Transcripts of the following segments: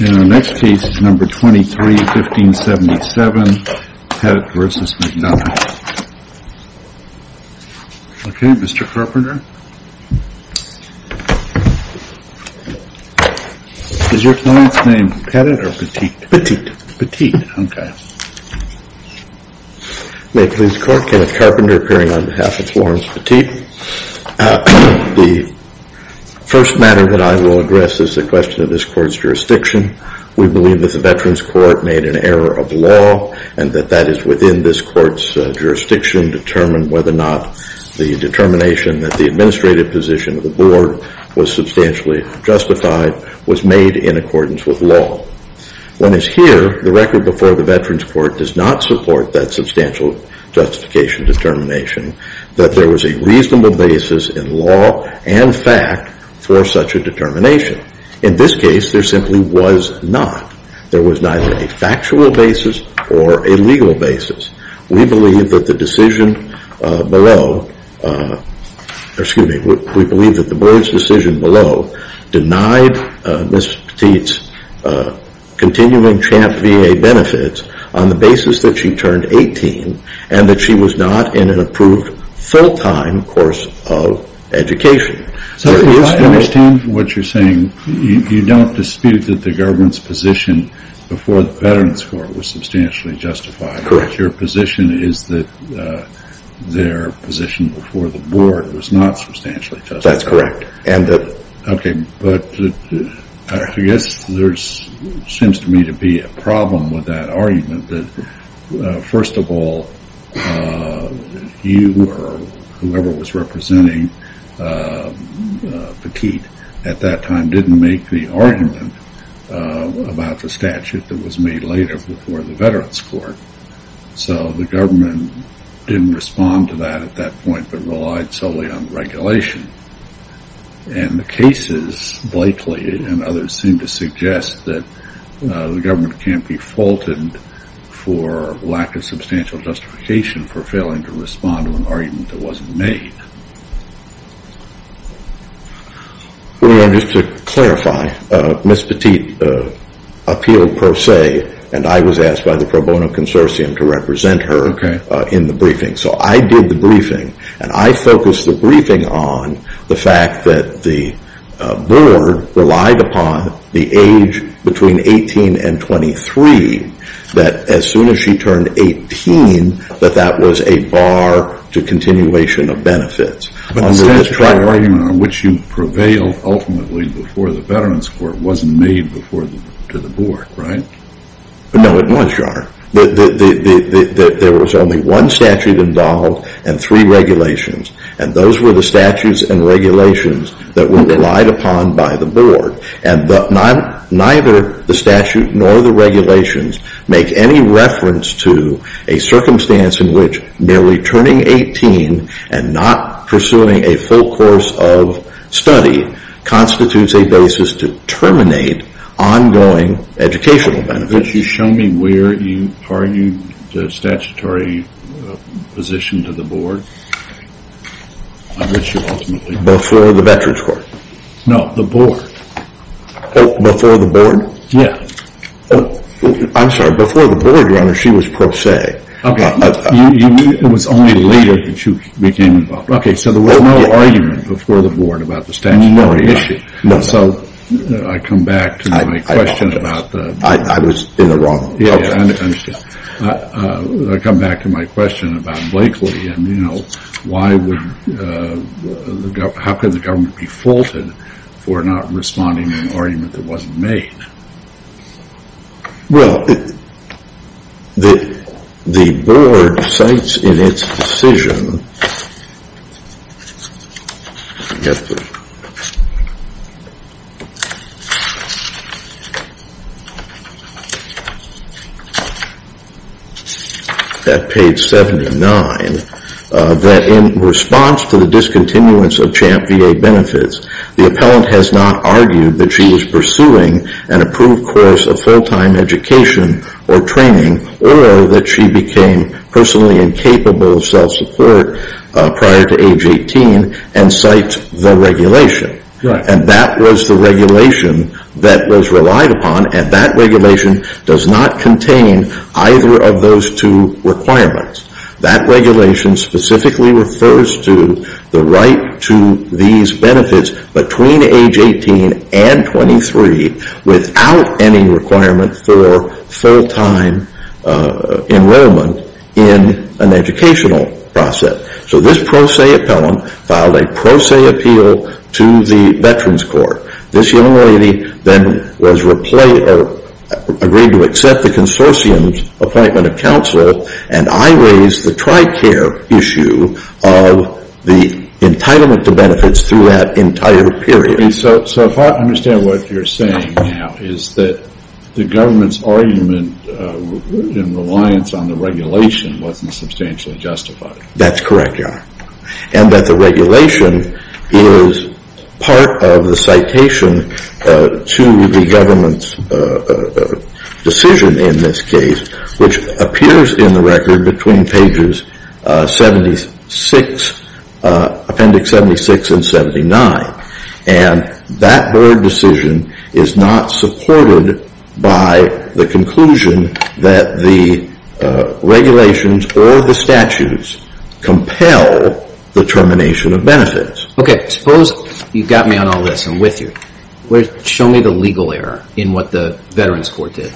Next case is number 23, 1577, Pettit v. McDonough. Okay, Mr. Carpenter. Is your client's name Pettit or Petite? Petite. Petite, okay. May it please the court, Kenneth Carpenter appearing on behalf of Florence Petite. The first matter that I will address is the question of this court's jurisdiction. We believe that the Veterans Court made an error of law and that that is within this court's jurisdiction to determine whether or not the determination that the administrative position of the board was substantially justified was made in accordance with law. When it's here, the record before the Veterans Court does not support that substantial justification determination that there was a reasonable basis in law and fact for such a determination. In this case, there simply was not. There was neither a factual basis or a legal basis. We believe that the decision below, excuse me, we believe that the board's decision below denied Ms. Petite's continuing Champ VA benefits on the basis that she turned 18 and that she was not in an approved full-time course of education. I understand what you're saying. You don't dispute that the government's position before the Veterans Court was substantially justified. Correct. Your position is that their position before the board was not substantially justified. That's correct. Okay, but I guess there seems to me to be a problem with that argument. First of all, you or whoever was representing Petite at that time didn't make the argument about the statute that was made later before the Veterans Court. So the government didn't respond to that at that point but relied solely on regulation. And the cases, Blakely and others, seem to suggest that the government can't be faulted for lack of substantial justification for failing to respond to an argument that wasn't made. Just to clarify, Ms. Petite appealed per se and I was asked by the pro bono consortium to represent her in the briefing. So I did the briefing and I focused the briefing on the fact that the board relied upon the age between 18 and 23, that as soon as she turned 18 that that was a bar to continuation of benefits. But the statute, the argument on which you prevailed ultimately before the Veterans Court, wasn't made before to the board, right? No, it was, Your Honor. There was only one statute involved and three regulations. And those were the statutes and regulations that were relied upon by the board. And neither the statute nor the regulations make any reference to a circumstance in which merely turning 18 and not pursuing a full course of study constitutes a basis to terminate ongoing educational benefits. Could you show me where you argued the statutory position to the board? Before the Veterans Court? No, the board. Before the board? Yeah. I'm sorry, before the board, Your Honor, she was per se. Okay. It was only later that you became involved. Okay, so there was no argument before the board about the statutory issue. No. So I come back to my question about the... I was in the wrong. Yeah, I understand. I come back to my question about Blakely and, you know, how could the government be faulted for not responding to an argument that wasn't made? Well, the board cites in its decision, at page 79, that in response to the discontinuance of CHAMP VA benefits, the appellant has not argued that she was pursuing an approved course of full-time education or training or that she became personally incapable of self-support prior to age 18 and cites the regulation. Right. And that was the regulation that was relied upon and that regulation does not contain either of those two requirements. That regulation specifically refers to the right to these benefits between age 18 and 23 without any requirement for full-time enrollment in an educational process. So this pro se appellant filed a pro se appeal to the Veterans Court. This young lady then was agreed to accept the consortium's appointment of counsel and I raised the TRICARE issue of the entitlement to benefits through that entire period. So if I understand what you're saying now, is that the government's argument in reliance on the regulation wasn't substantially justified. That's correct, Your Honor. And that the regulation is part of the citation to the government's decision in this case, which appears in the record between pages 76, appendix 76 and 79. And that board decision is not supported by the conclusion that the regulations or the statutes compel the termination of benefits. Okay, suppose you got me on all this. I'm with you. Show me the legal error in what the Veterans Court did.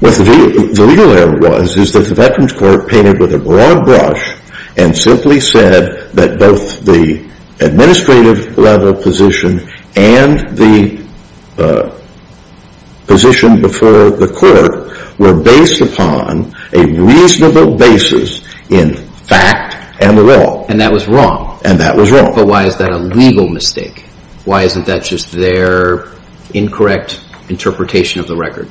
What the legal error was is that the Veterans Court painted with a broad brush and simply said that both the administrative level position and the position before the court were based upon a reasonable basis in fact and the law. And that was wrong. And that was wrong. But why is that a legal mistake? Why isn't that just their incorrect interpretation of the record?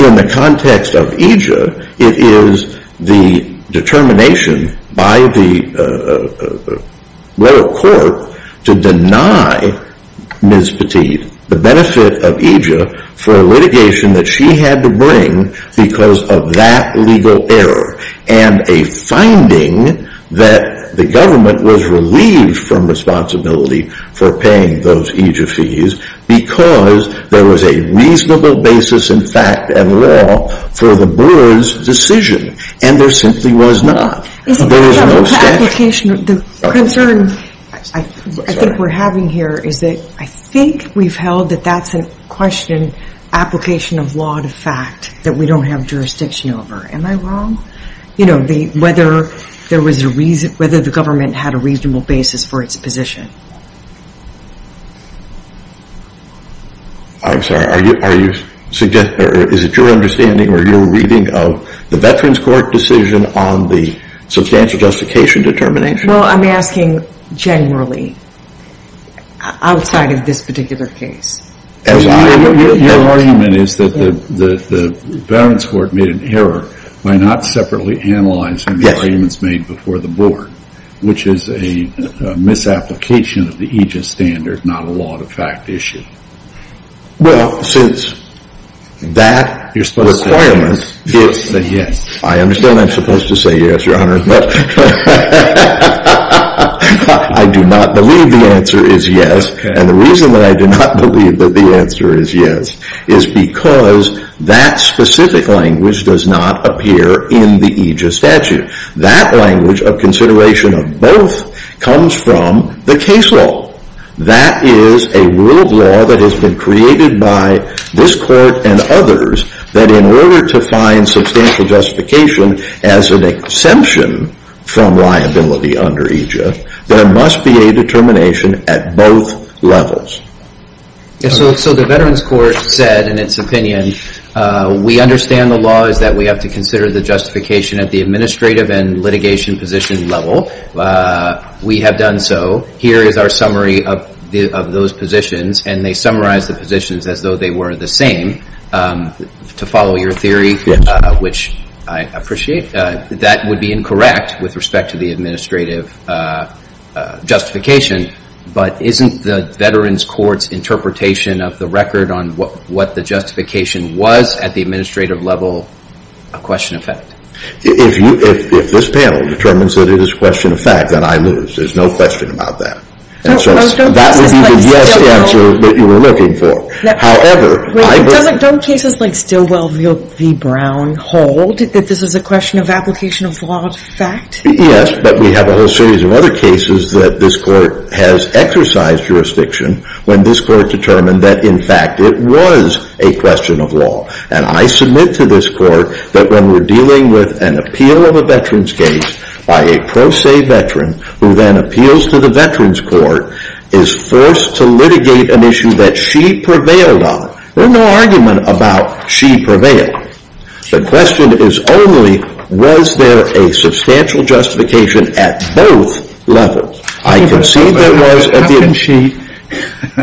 In the context of EJIA, it is the determination by the lower court to deny Ms. Petit the benefit of EJIA for litigation that she had to bring because of that legal error and a finding that the government was relieved from responsibility for paying those EJIA fees because there was a reasonable basis in fact and law for the board's decision. And there simply was not. There is no step. The concern I think we're having here is that I think we've held that that's a question, application of law to fact, that we don't have jurisdiction over. Am I wrong? You know, whether the government had a reasonable basis for its position. I'm sorry. Is it your understanding or your reading of the Veterans Court decision on the substantial justification determination? Well, I'm asking generally outside of this particular case. Your argument is that the Veterans Court made an error by not separately analyzing the arguments made before the board, which is a misapplication of the EJIA standard, not a law to fact issue. Well, since that requirement is that yes. I understand I'm supposed to say yes, Your Honor. I do not believe the answer is yes. And the reason that I do not believe that the answer is yes is because that specific language does not appear in the EJIA statute. That language of consideration of both comes from the case law. That is a rule of law that has been created by this court and others that in order to find substantial justification as an exemption from liability under EJIA, there must be a determination at both levels. So the Veterans Court said in its opinion, we understand the law is that we have to consider the justification at the administrative and litigation position level. We have done so. Here is our summary of those positions, and they summarize the positions as though they were the same, to follow your theory, which I appreciate. That would be incorrect with respect to the administrative justification, but isn't the Veterans Court's interpretation of the record on what the justification was at the administrative level a question of fact? If this panel determines that it is a question of fact, then I lose. There is no question about that. That would be the yes answer that you were looking for. Don't cases like Stilwell v. Brown hold that this is a question of application of law of fact? Yes, but we have a whole series of other cases that this court has exercised jurisdiction when this court determined that in fact it was a question of law. And I submit to this court that when we're dealing with an appeal of a veterans case by a pro se veteran who then appeals to the Veterans Court, is forced to litigate an issue that she prevailed on. There's no argument about she prevailed. The question is only, was there a substantial justification at both levels? I concede there was at the... How can she...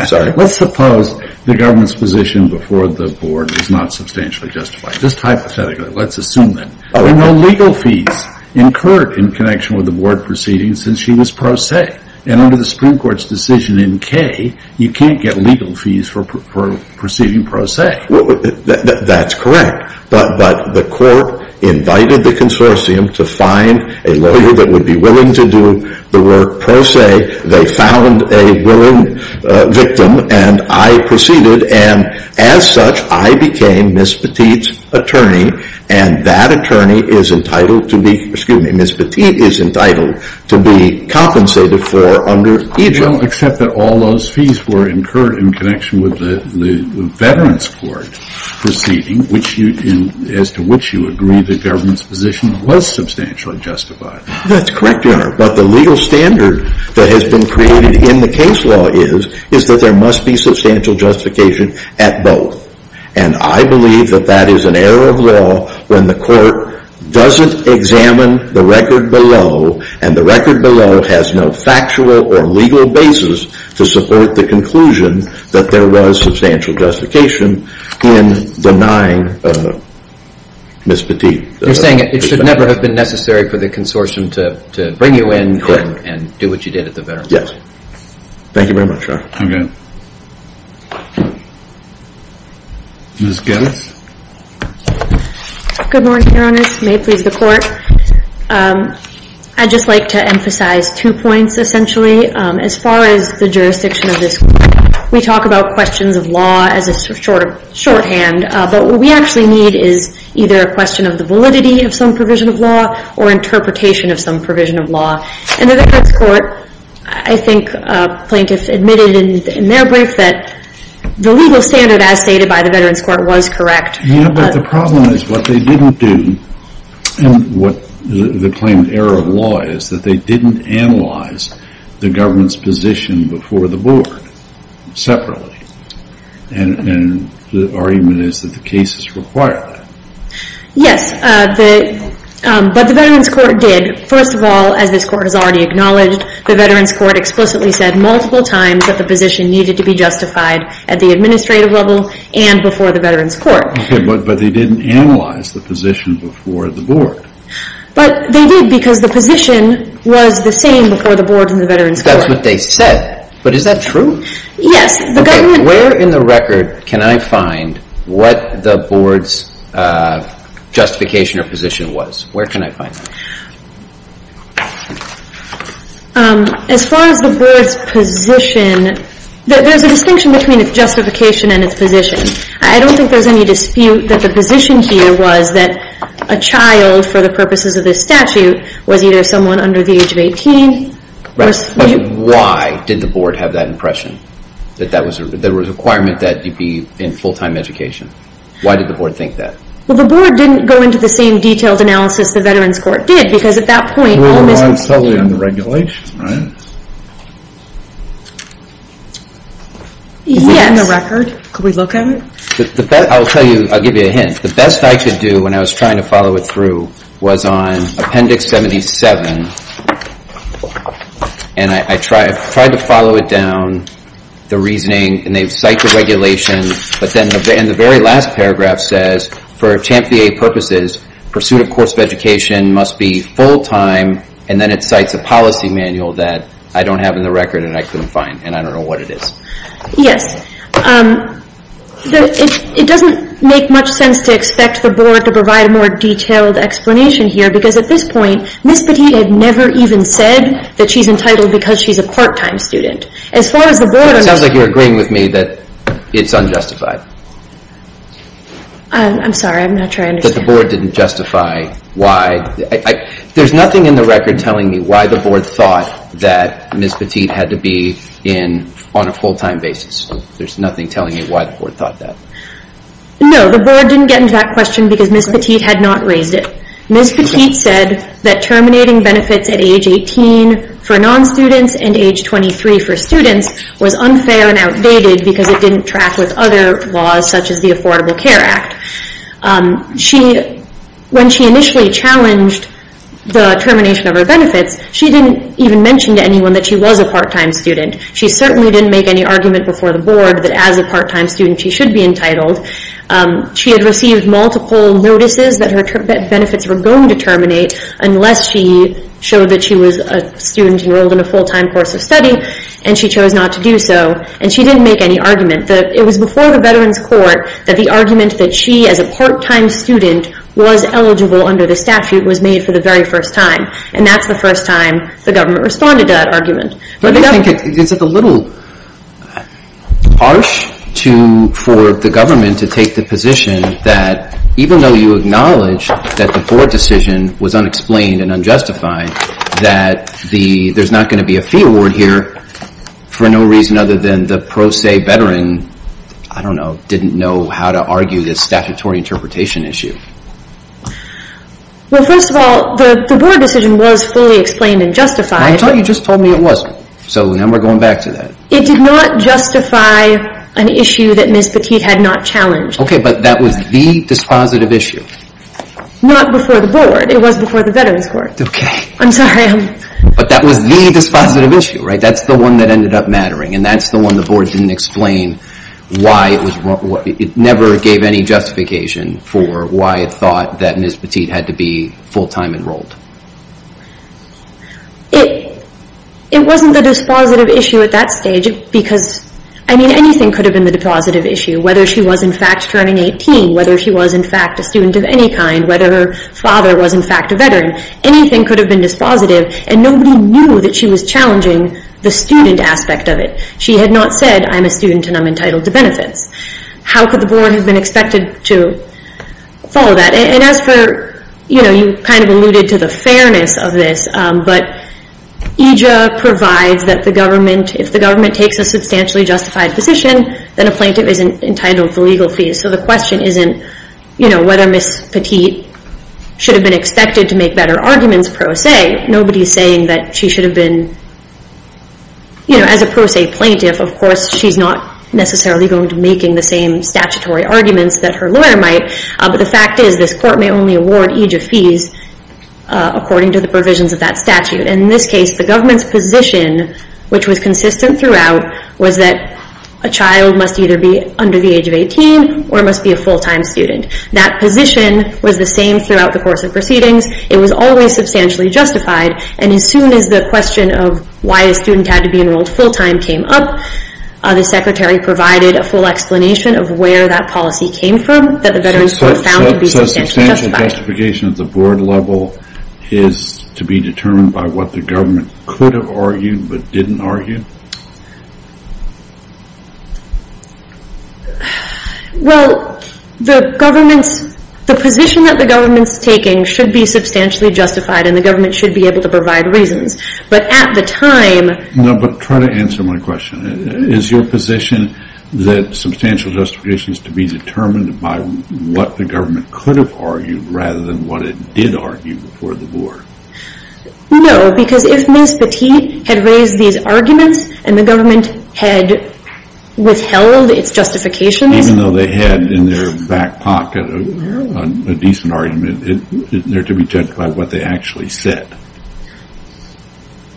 Sorry. Let's suppose the government's position before the board is not substantially justified. Just hypothetically, let's assume that. There were no legal fees incurred in connection with the board proceedings since she was pro se. And under the Supreme Court's decision in K, you can't get legal fees for proceeding pro se. That's correct. But the court invited the consortium to find a lawyer that would be willing to do the work pro se. They found a willing victim, and I proceeded. And as such, I became Ms. Petit's attorney, and that attorney is entitled to be... Well, except that all those fees were incurred in connection with the Veterans Court proceeding, as to which you agree the government's position was substantially justified. That's correct, Your Honor. But the legal standard that has been created in the case law is that there must be substantial justification at both. And I believe that that is an error of law when the court doesn't examine the record below, and the record below has no factual or legal basis to support the conclusion that there was substantial justification in denying Ms. Petit. You're saying it should never have been necessary for the consortium to bring you in and do what you did at the Veterans Court? Yes. Thank you very much, Your Honor. Okay. Ms. Geddes? Good morning, Your Honor. May it please the Court. I'd just like to emphasize two points, essentially. As far as the jurisdiction of this court, we talk about questions of law as a sort of shorthand, but what we actually need is either a question of the validity of some provision of law or interpretation of some provision of law. And the Veterans Court, I think plaintiffs admitted in their brief that the legal standard as stated by the Veterans Court was correct. Yeah, but the problem is what they didn't do, and what the claim of error of law is, that they didn't analyze the government's position before the board separately. And the argument is that the cases require that. Yes, but the Veterans Court did. First of all, as this court has already acknowledged, the Veterans Court explicitly said multiple times that the position needed to be justified at the administrative level and before the Veterans Court. Okay, but they didn't analyze the position before the board. But they did because the position was the same before the boards and the Veterans Court. That's what they said. But is that true? Yes. Okay, where in the record can I find what the board's justification or position was? Where can I find that? As far as the board's position, there's a distinction between its justification and its position. I don't think there's any dispute that the position here was that a child, for the purposes of this statute, was either someone under the age of 18. Right, but why did the board have that impression? That there was a requirement that you be in full-time education? Why did the board think that? Well, the board didn't go into the same detailed analysis the Veterans Court did because at that point, it was totally under regulation, right? Yes. Is that in the record? Could we look at it? I'll give you a hint. The best I could do when I was trying to follow it through was on Appendix 77. And I tried to follow it down, the reasoning, and they cite the regulation. But then in the very last paragraph says, for CHAMPVA purposes, pursuit of course of education must be full-time, and then it cites a policy manual that I don't have in the record and I couldn't find, and I don't know what it is. Yes. It doesn't make much sense to expect the board to provide a more detailed explanation here because at this point, Ms. Petit had never even said that she's entitled because she's a part-time student. As far as the board... It sounds like you're agreeing with me that it's unjustified. I'm sorry, I'm not sure I understand. That the board didn't justify why... There's nothing in the record telling me why the board thought that Ms. Petit had to be in on a full-time basis. There's nothing telling me why the board thought that. No, the board didn't get into that question because Ms. Petit had not raised it. Ms. Petit said that terminating benefits at age 18 for non-students and age 23 for students was unfair and outdated because it didn't track with other laws such as the Affordable Care Act. When she initially challenged the termination of her benefits, she didn't even mention to anyone that she was a part-time student. She certainly didn't make any argument before the board that as a part-time student she should be entitled. She had received multiple notices that her benefits were going to terminate unless she showed that she was a student enrolled in a full-time course of study and she chose not to do so. And she didn't make any argument. It was before the Veterans Court that the argument that she as a part-time student was eligible under the statute was made for the very first time. And that's the first time the government responded to that argument. But I think it's a little harsh for the government to take the position that even though you acknowledge that the board decision was unexplained and unjustified, that there's not going to be a fee award here for no reason other than the pro se veteran, I don't know, didn't know how to argue this statutory interpretation issue. Well, first of all, the board decision was fully explained and justified. I thought you just told me it wasn't. So now we're going back to that. It did not justify an issue that Ms. Petit had not challenged. Okay, but that was the dispositive issue. Not before the board. It was before the Veterans Court. Okay. I'm sorry. But that was the dispositive issue, right? That's the one that ended up mattering and that's the one the board didn't explain why it was wrong. It never gave any justification for why it thought that Ms. Petit had to be full-time enrolled. It wasn't the dispositive issue at that stage because, I mean, anything could have been the dispositive issue, whether she was, in fact, turning 18, whether she was, in fact, a student of any kind, whether her father was, in fact, a veteran. Anything could have been dispositive, and nobody knew that she was challenging the student aspect of it. She had not said, I'm a student and I'm entitled to benefits. How could the board have been expected to follow that? And as for, you kind of alluded to the fairness of this, but EJA provides that if the government takes a substantially justified position, then a plaintiff is entitled to legal fees. So the question isn't whether Ms. Petit should have been expected to make better arguments pro se. Nobody is saying that she should have been, you know, as a pro se plaintiff, of course, she's not necessarily going to be making the same statutory arguments that her lawyer might. But the fact is this court may only award EJA fees according to the provisions of that statute. And in this case, the government's position, which was consistent throughout, was that a child must either be under the age of 18 or must be a full-time student. That position was the same throughout the course of proceedings. It was always substantially justified. And as soon as the question of why a student had to be enrolled full-time came up, the secretary provided a full explanation of where that policy came from that the veterans court found to be substantially justified. So substantial justification at the board level is to be determined by what the government could have argued but didn't argue? Well, the government's... the position that the government's taking should be substantially justified and the government should be able to provide reasons. But at the time... No, but try to answer my question. Is your position that substantial justification is to be determined by what the government could have argued rather than what it did argue before the board? No, because if Ms. Petit had raised these arguments and the government had withheld its justifications... Even though they had in their back pocket a decent argument isn't there to be judged by what they actually said?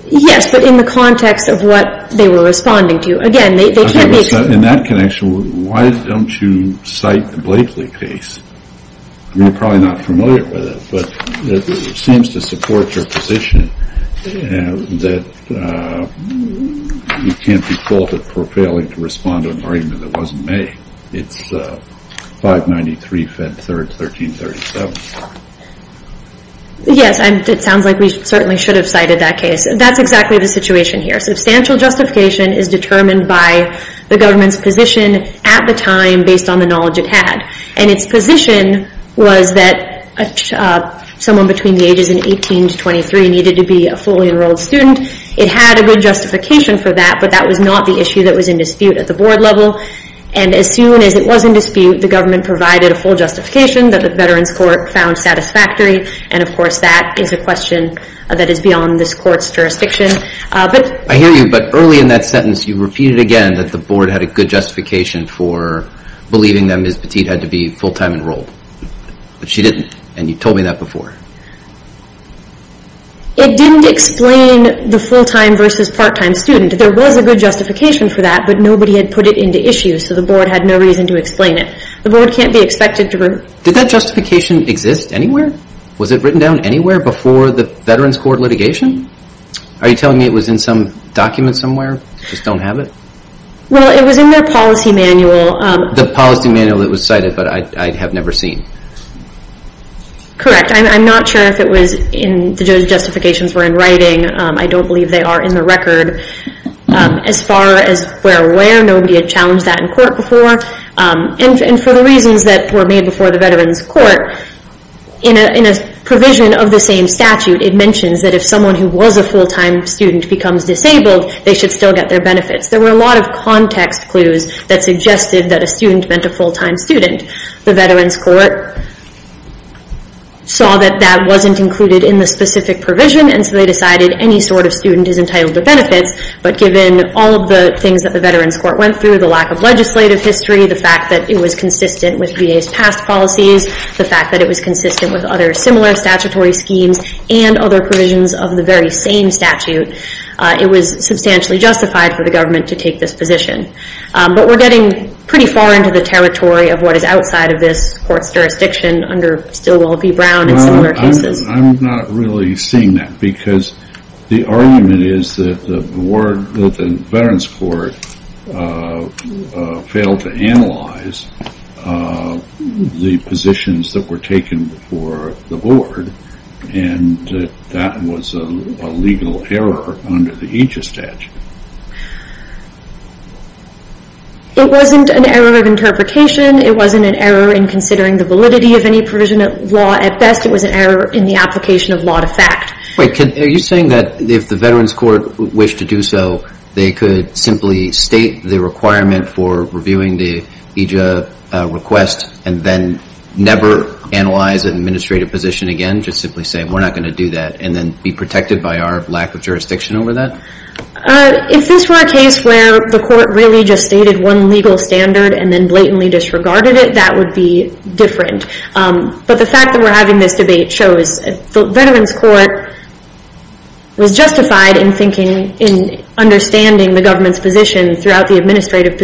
Yes, but in the context of what they were responding to. Again, they can't be... In that connection, why don't you cite the Blakeley case? You're probably not familiar with it, but it seems to support your position that you can't be faulted for failing to respond to an argument that wasn't made. It's 593, Fed 3rd, 1337. Yes, it sounds like we certainly should have cited that case. That's exactly the situation here. Substantial justification is determined by the government's position at the time based on the knowledge it had. And its position was that someone between the ages of 18 to 23 needed to be a fully enrolled student. It had a good justification for that, but that was not the issue that was in dispute at the board level. And as soon as it was in dispute, the government provided a full justification that the Veterans Court found satisfactory. And of course, that is a question that is beyond this court's jurisdiction. I hear you, but early in that sentence, you repeated again that the board had a good justification for believing that Ms. Petit had to be full-time enrolled. But she didn't, and you told me that before. It didn't explain the full-time versus part-time student. There was a good justification for that, but nobody had put it into issue, so the board had no reason to explain it. The board can't be expected to... Did that justification exist anywhere? Was it written down anywhere before the Veterans Court litigation? Are you telling me it was in some document somewhere? Just don't have it? Well, it was in their policy manual. The policy manual that was cited, but I have never seen. Correct. I'm not sure if the justifications were in writing. I don't believe they are in the record. As far as we're aware, nobody had challenged that in court before. And for the reasons that were made before the Veterans Court, in a provision of the same statute, it mentions that if someone who was a full-time student becomes disabled, they should still get their benefits. There were a lot of context clues that suggested that a student meant a full-time student. The Veterans Court saw that that wasn't included in the specific provision, and so they decided any sort of student is entitled to benefits. But given all of the things that the Veterans Court went through, the lack of legislative history, the fact that it was consistent with VA's past policies, the fact that it was consistent with other similar statutory schemes, and other provisions of the very same statute, it was substantially justified for the government to take this position. But we're getting pretty far into the territory of what is outside of this court's jurisdiction under Stilwell v. Brown and similar cases. I'm not really seeing that, because the argument is that the Veterans Court failed to analyze the positions that were taken before the board, and that was a legal error under the AJA statute. It wasn't an error of interpretation. It wasn't an error in considering the validity of any provision of law at best. It was an error in the application of law to fact. Wait, are you saying that if the Veterans Court wished to do so, they could simply state the requirement for reviewing the AJA request and then never analyze an administrative position again, just simply saying we're not going to do that, and then be protected by our lack of jurisdiction over that? If this were a case where the court really just stated one legal standard and then blatantly disregarded it, that would be different. But the fact that we're having this debate shows the Veterans Court was justified in thinking, in understanding the government's position throughout the administrative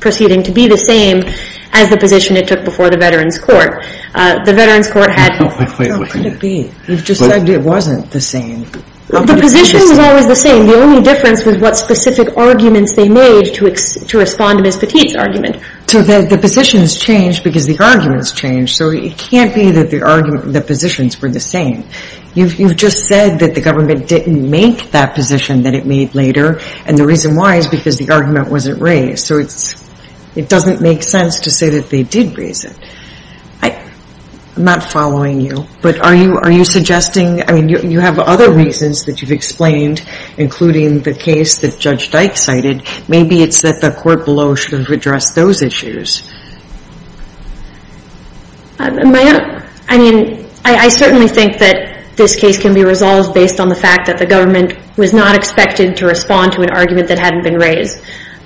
proceeding to be the same as the position it took before the Veterans Court. The Veterans Court had... How could it be? You've just said it wasn't the same. The position was always the same. The only difference was what specific arguments they made to respond to Ms. Petit's argument. So the positions changed because the arguments changed. So it can't be that the positions were the same. You've just said that the government didn't make that position that it made later, and the reason why is because the argument wasn't raised. So it doesn't make sense to say that they did raise it. I'm not following you, but are you suggesting... I mean, you have other reasons that you've explained, including the case that Judge Dyke cited. Maybe it's that the court below should have addressed those issues. I mean, I certainly think that this case can be resolved based on the fact that the government was not expected to respond to an argument that hadn't been raised.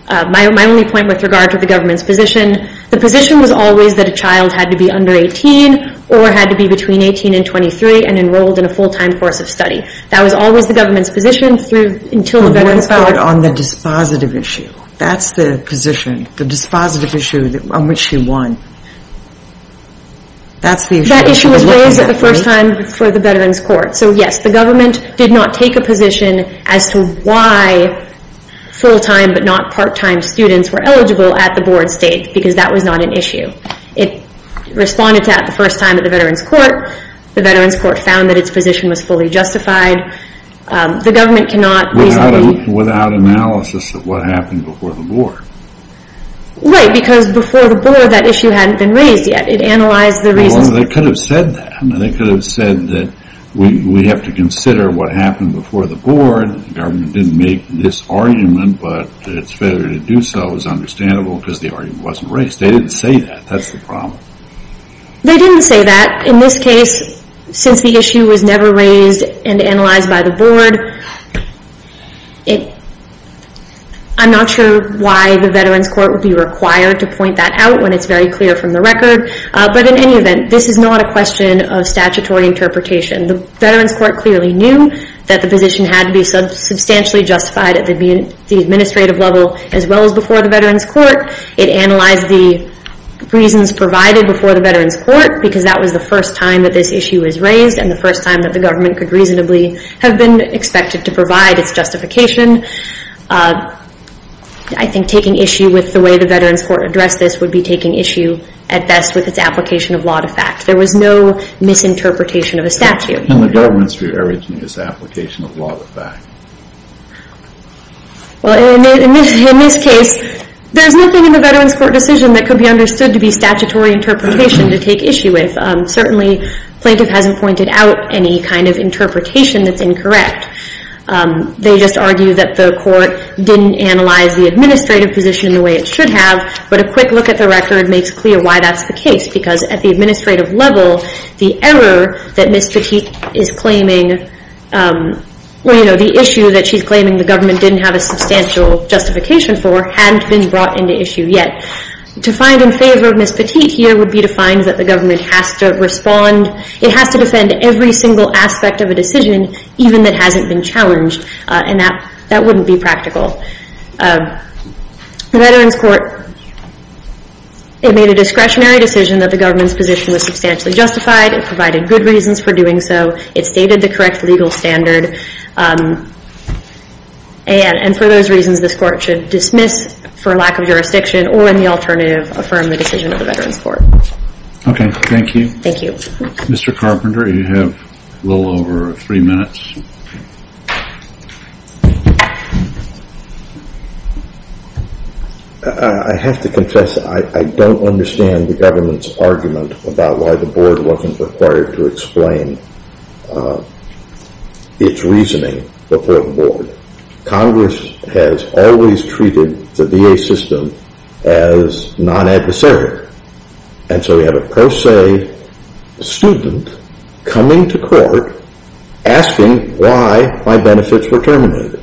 My only point with regard to the government's position, the position was always that a child had to be under 18 or had to be between 18 and 23 and enrolled in a full-time course of study. That was always the government's position until the Veterans' Court... On the dispositive issue. That's the position, the dispositive issue on which she won. That issue was raised for the first time for the Veterans' Court. So yes, the government did not take a position as to why full-time but not part-time students were eligible at the board state because that was not an issue. It responded to that the first time at the Veterans' Court. The Veterans' Court found that its position was fully justified. The government cannot easily... Without analysis of what happened before the board. Right, because before the board, that issue hadn't been raised yet. It analyzed the reasons... Well, they could have said that. They could have said that we have to consider what happened before the board. The government didn't make this argument, but it's better to do so is understandable because the argument wasn't raised. They didn't say that. That's the problem. They didn't say that. In this case, since the issue was never raised and analyzed by the board, I'm not sure why the Veterans' Court would be required to point that out when it's very clear from the record. But in any event, this is not a question of statutory interpretation. The Veterans' Court clearly knew that the position had to be substantially justified at the administrative level as well as before the Veterans' Court. It analyzed the reasons provided before the Veterans' Court because that was the first time that this issue was raised and the first time that the government could reasonably have been expected to provide its justification. I think taking issue with the way the Veterans' Court addressed this would be taking issue at best with its application of law to fact. There was no misinterpretation of a statute. And the government's re-arranging its application of law to fact. In this case, there's nothing in the Veterans' Court decision that could be understood to be statutory interpretation to take issue with. Certainly, plaintiff hasn't pointed out any kind of interpretation that's incorrect. They just argue that the court didn't analyze the administrative position the way it should have. But a quick look at the record makes clear why that's the case because at the administrative level, the error that Ms. Petit is claiming, the issue that she's claiming the government didn't have a substantial justification for hadn't been brought into issue yet. To find in favor of Ms. Petit here would be to find that the government has to respond, it has to defend every single aspect of a decision even that hasn't been challenged. And that wouldn't be practical. The Veterans' Court, it made a discretionary decision that the government's position was substantially justified. It provided good reasons for doing so. It stated the correct legal standard. And for those reasons, this court should dismiss for lack of jurisdiction or in the alternative, affirm the decision of the Veterans' Court. Okay, thank you. Thank you. Mr. Carpenter, you have a little over three minutes. I have to confess, I don't understand the government's argument about why the board wasn't required to explain its reasoning before the board. Congress has always treated the VA system as non-adversary. And so we have a pro se student coming to court asking why my benefits were terminated.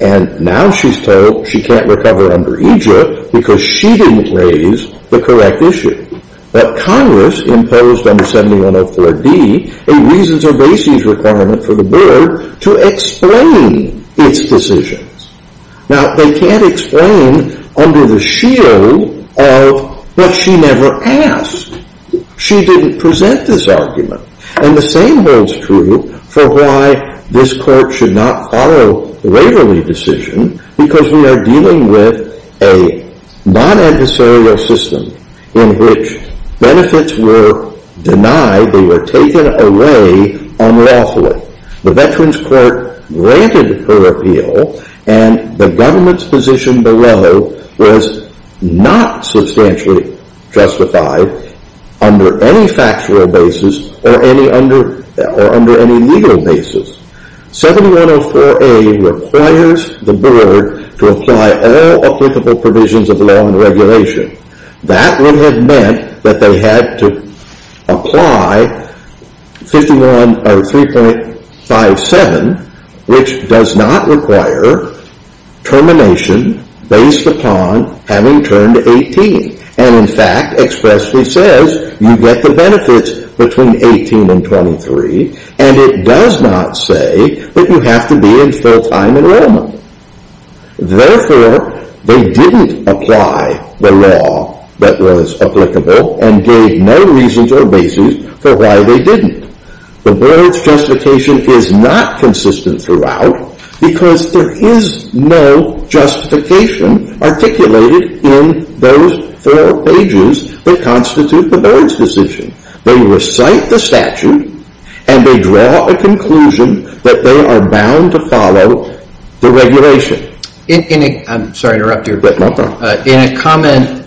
And now she's told she can't recover under EJIP because she didn't raise the correct issue. But Congress imposed under 7104D a reasons or basis requirement for the board to explain its decisions. Now they can't explain under the shield of, but she never asked. She didn't present this argument. And the same holds true for why this court should not follow the Waverly decision because we are dealing with a non-adversarial system in which benefits were denied, they were taken away unlawfully. The Veterans' Court granted her appeal and the government's position below was not substantially justified under any factual basis or under any legal basis. 7104A requires the board to apply all applicable provisions of law and regulation. That would have meant that they had to apply 3.57, which does not require termination based upon having turned 18 and in fact expressly says you get the benefits between 18 and 23 and it does not say that you have to be in full-time enrollment. Therefore, they didn't apply the law that was applicable and gave no reasons or basis for why they didn't. The board's justification is not consistent throughout because there is no justification articulated in those four pages that constitute the board's decision. They recite the statute and they draw a conclusion that they are bound to follow the regulation. In a comment,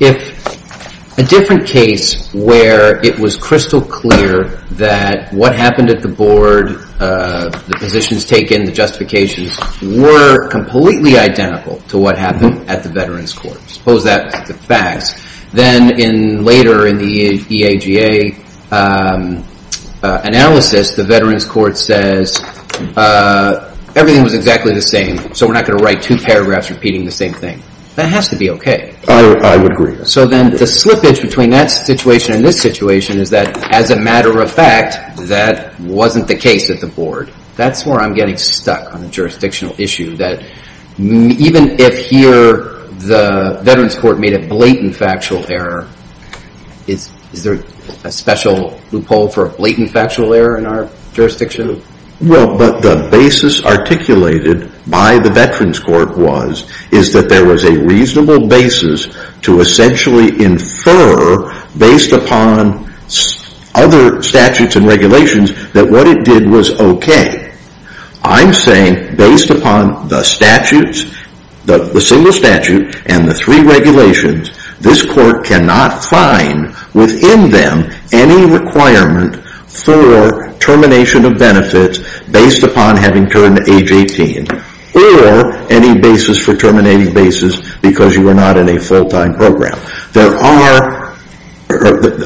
if a different case where it was crystal clear that what happened at the board, the positions taken, the justifications were completely identical to what happened at the Veterans' Court, suppose that's the facts, then later in the EAGA analysis, the Veterans' Court says everything was exactly the same so we're not going to write two paragraphs repeating the same thing. That has to be okay. I would agree. So then the slippage between that situation and this situation is that as a matter of fact, that wasn't the case at the board. That's where I'm getting stuck on the jurisdictional issue that even if here the Veterans' Court made a blatant factual error, is there a special loophole for a blatant factual error in our jurisdiction? Well, but the basis articulated by the Veterans' Court was that there was a reasonable basis to essentially infer based upon other statutes and regulations that what it did was okay. I'm saying based upon the statutes, the single statute and the three regulations, this court cannot find within them any requirement for termination of benefits based upon having turned age 18 or any basis for terminating basis because you are not in a full-time program.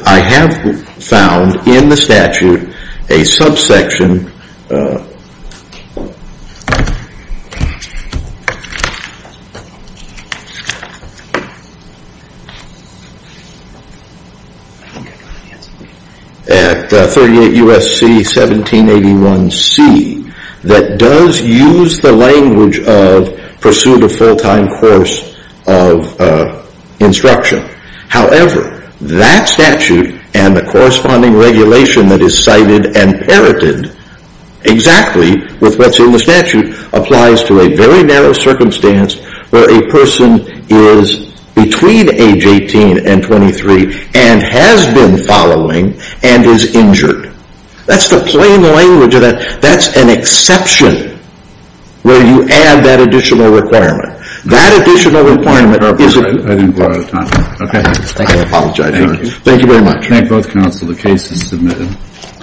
I have found in the statute a subsection at 38 U.S.C. 1781C that does use the language of pursue the full-time course of instruction. However, that statute and the corresponding regulation that is cited and parroted exactly with what's in the statute applies to a very narrow circumstance where a person is between age 18 and 23 and has been following and is injured. That's the plain language of that. That's an exception where you add that additional requirement. That additional requirement is a... I didn't go out of time. Okay. I apologize. Thank you very much. Thank both counsel. The case is submitted.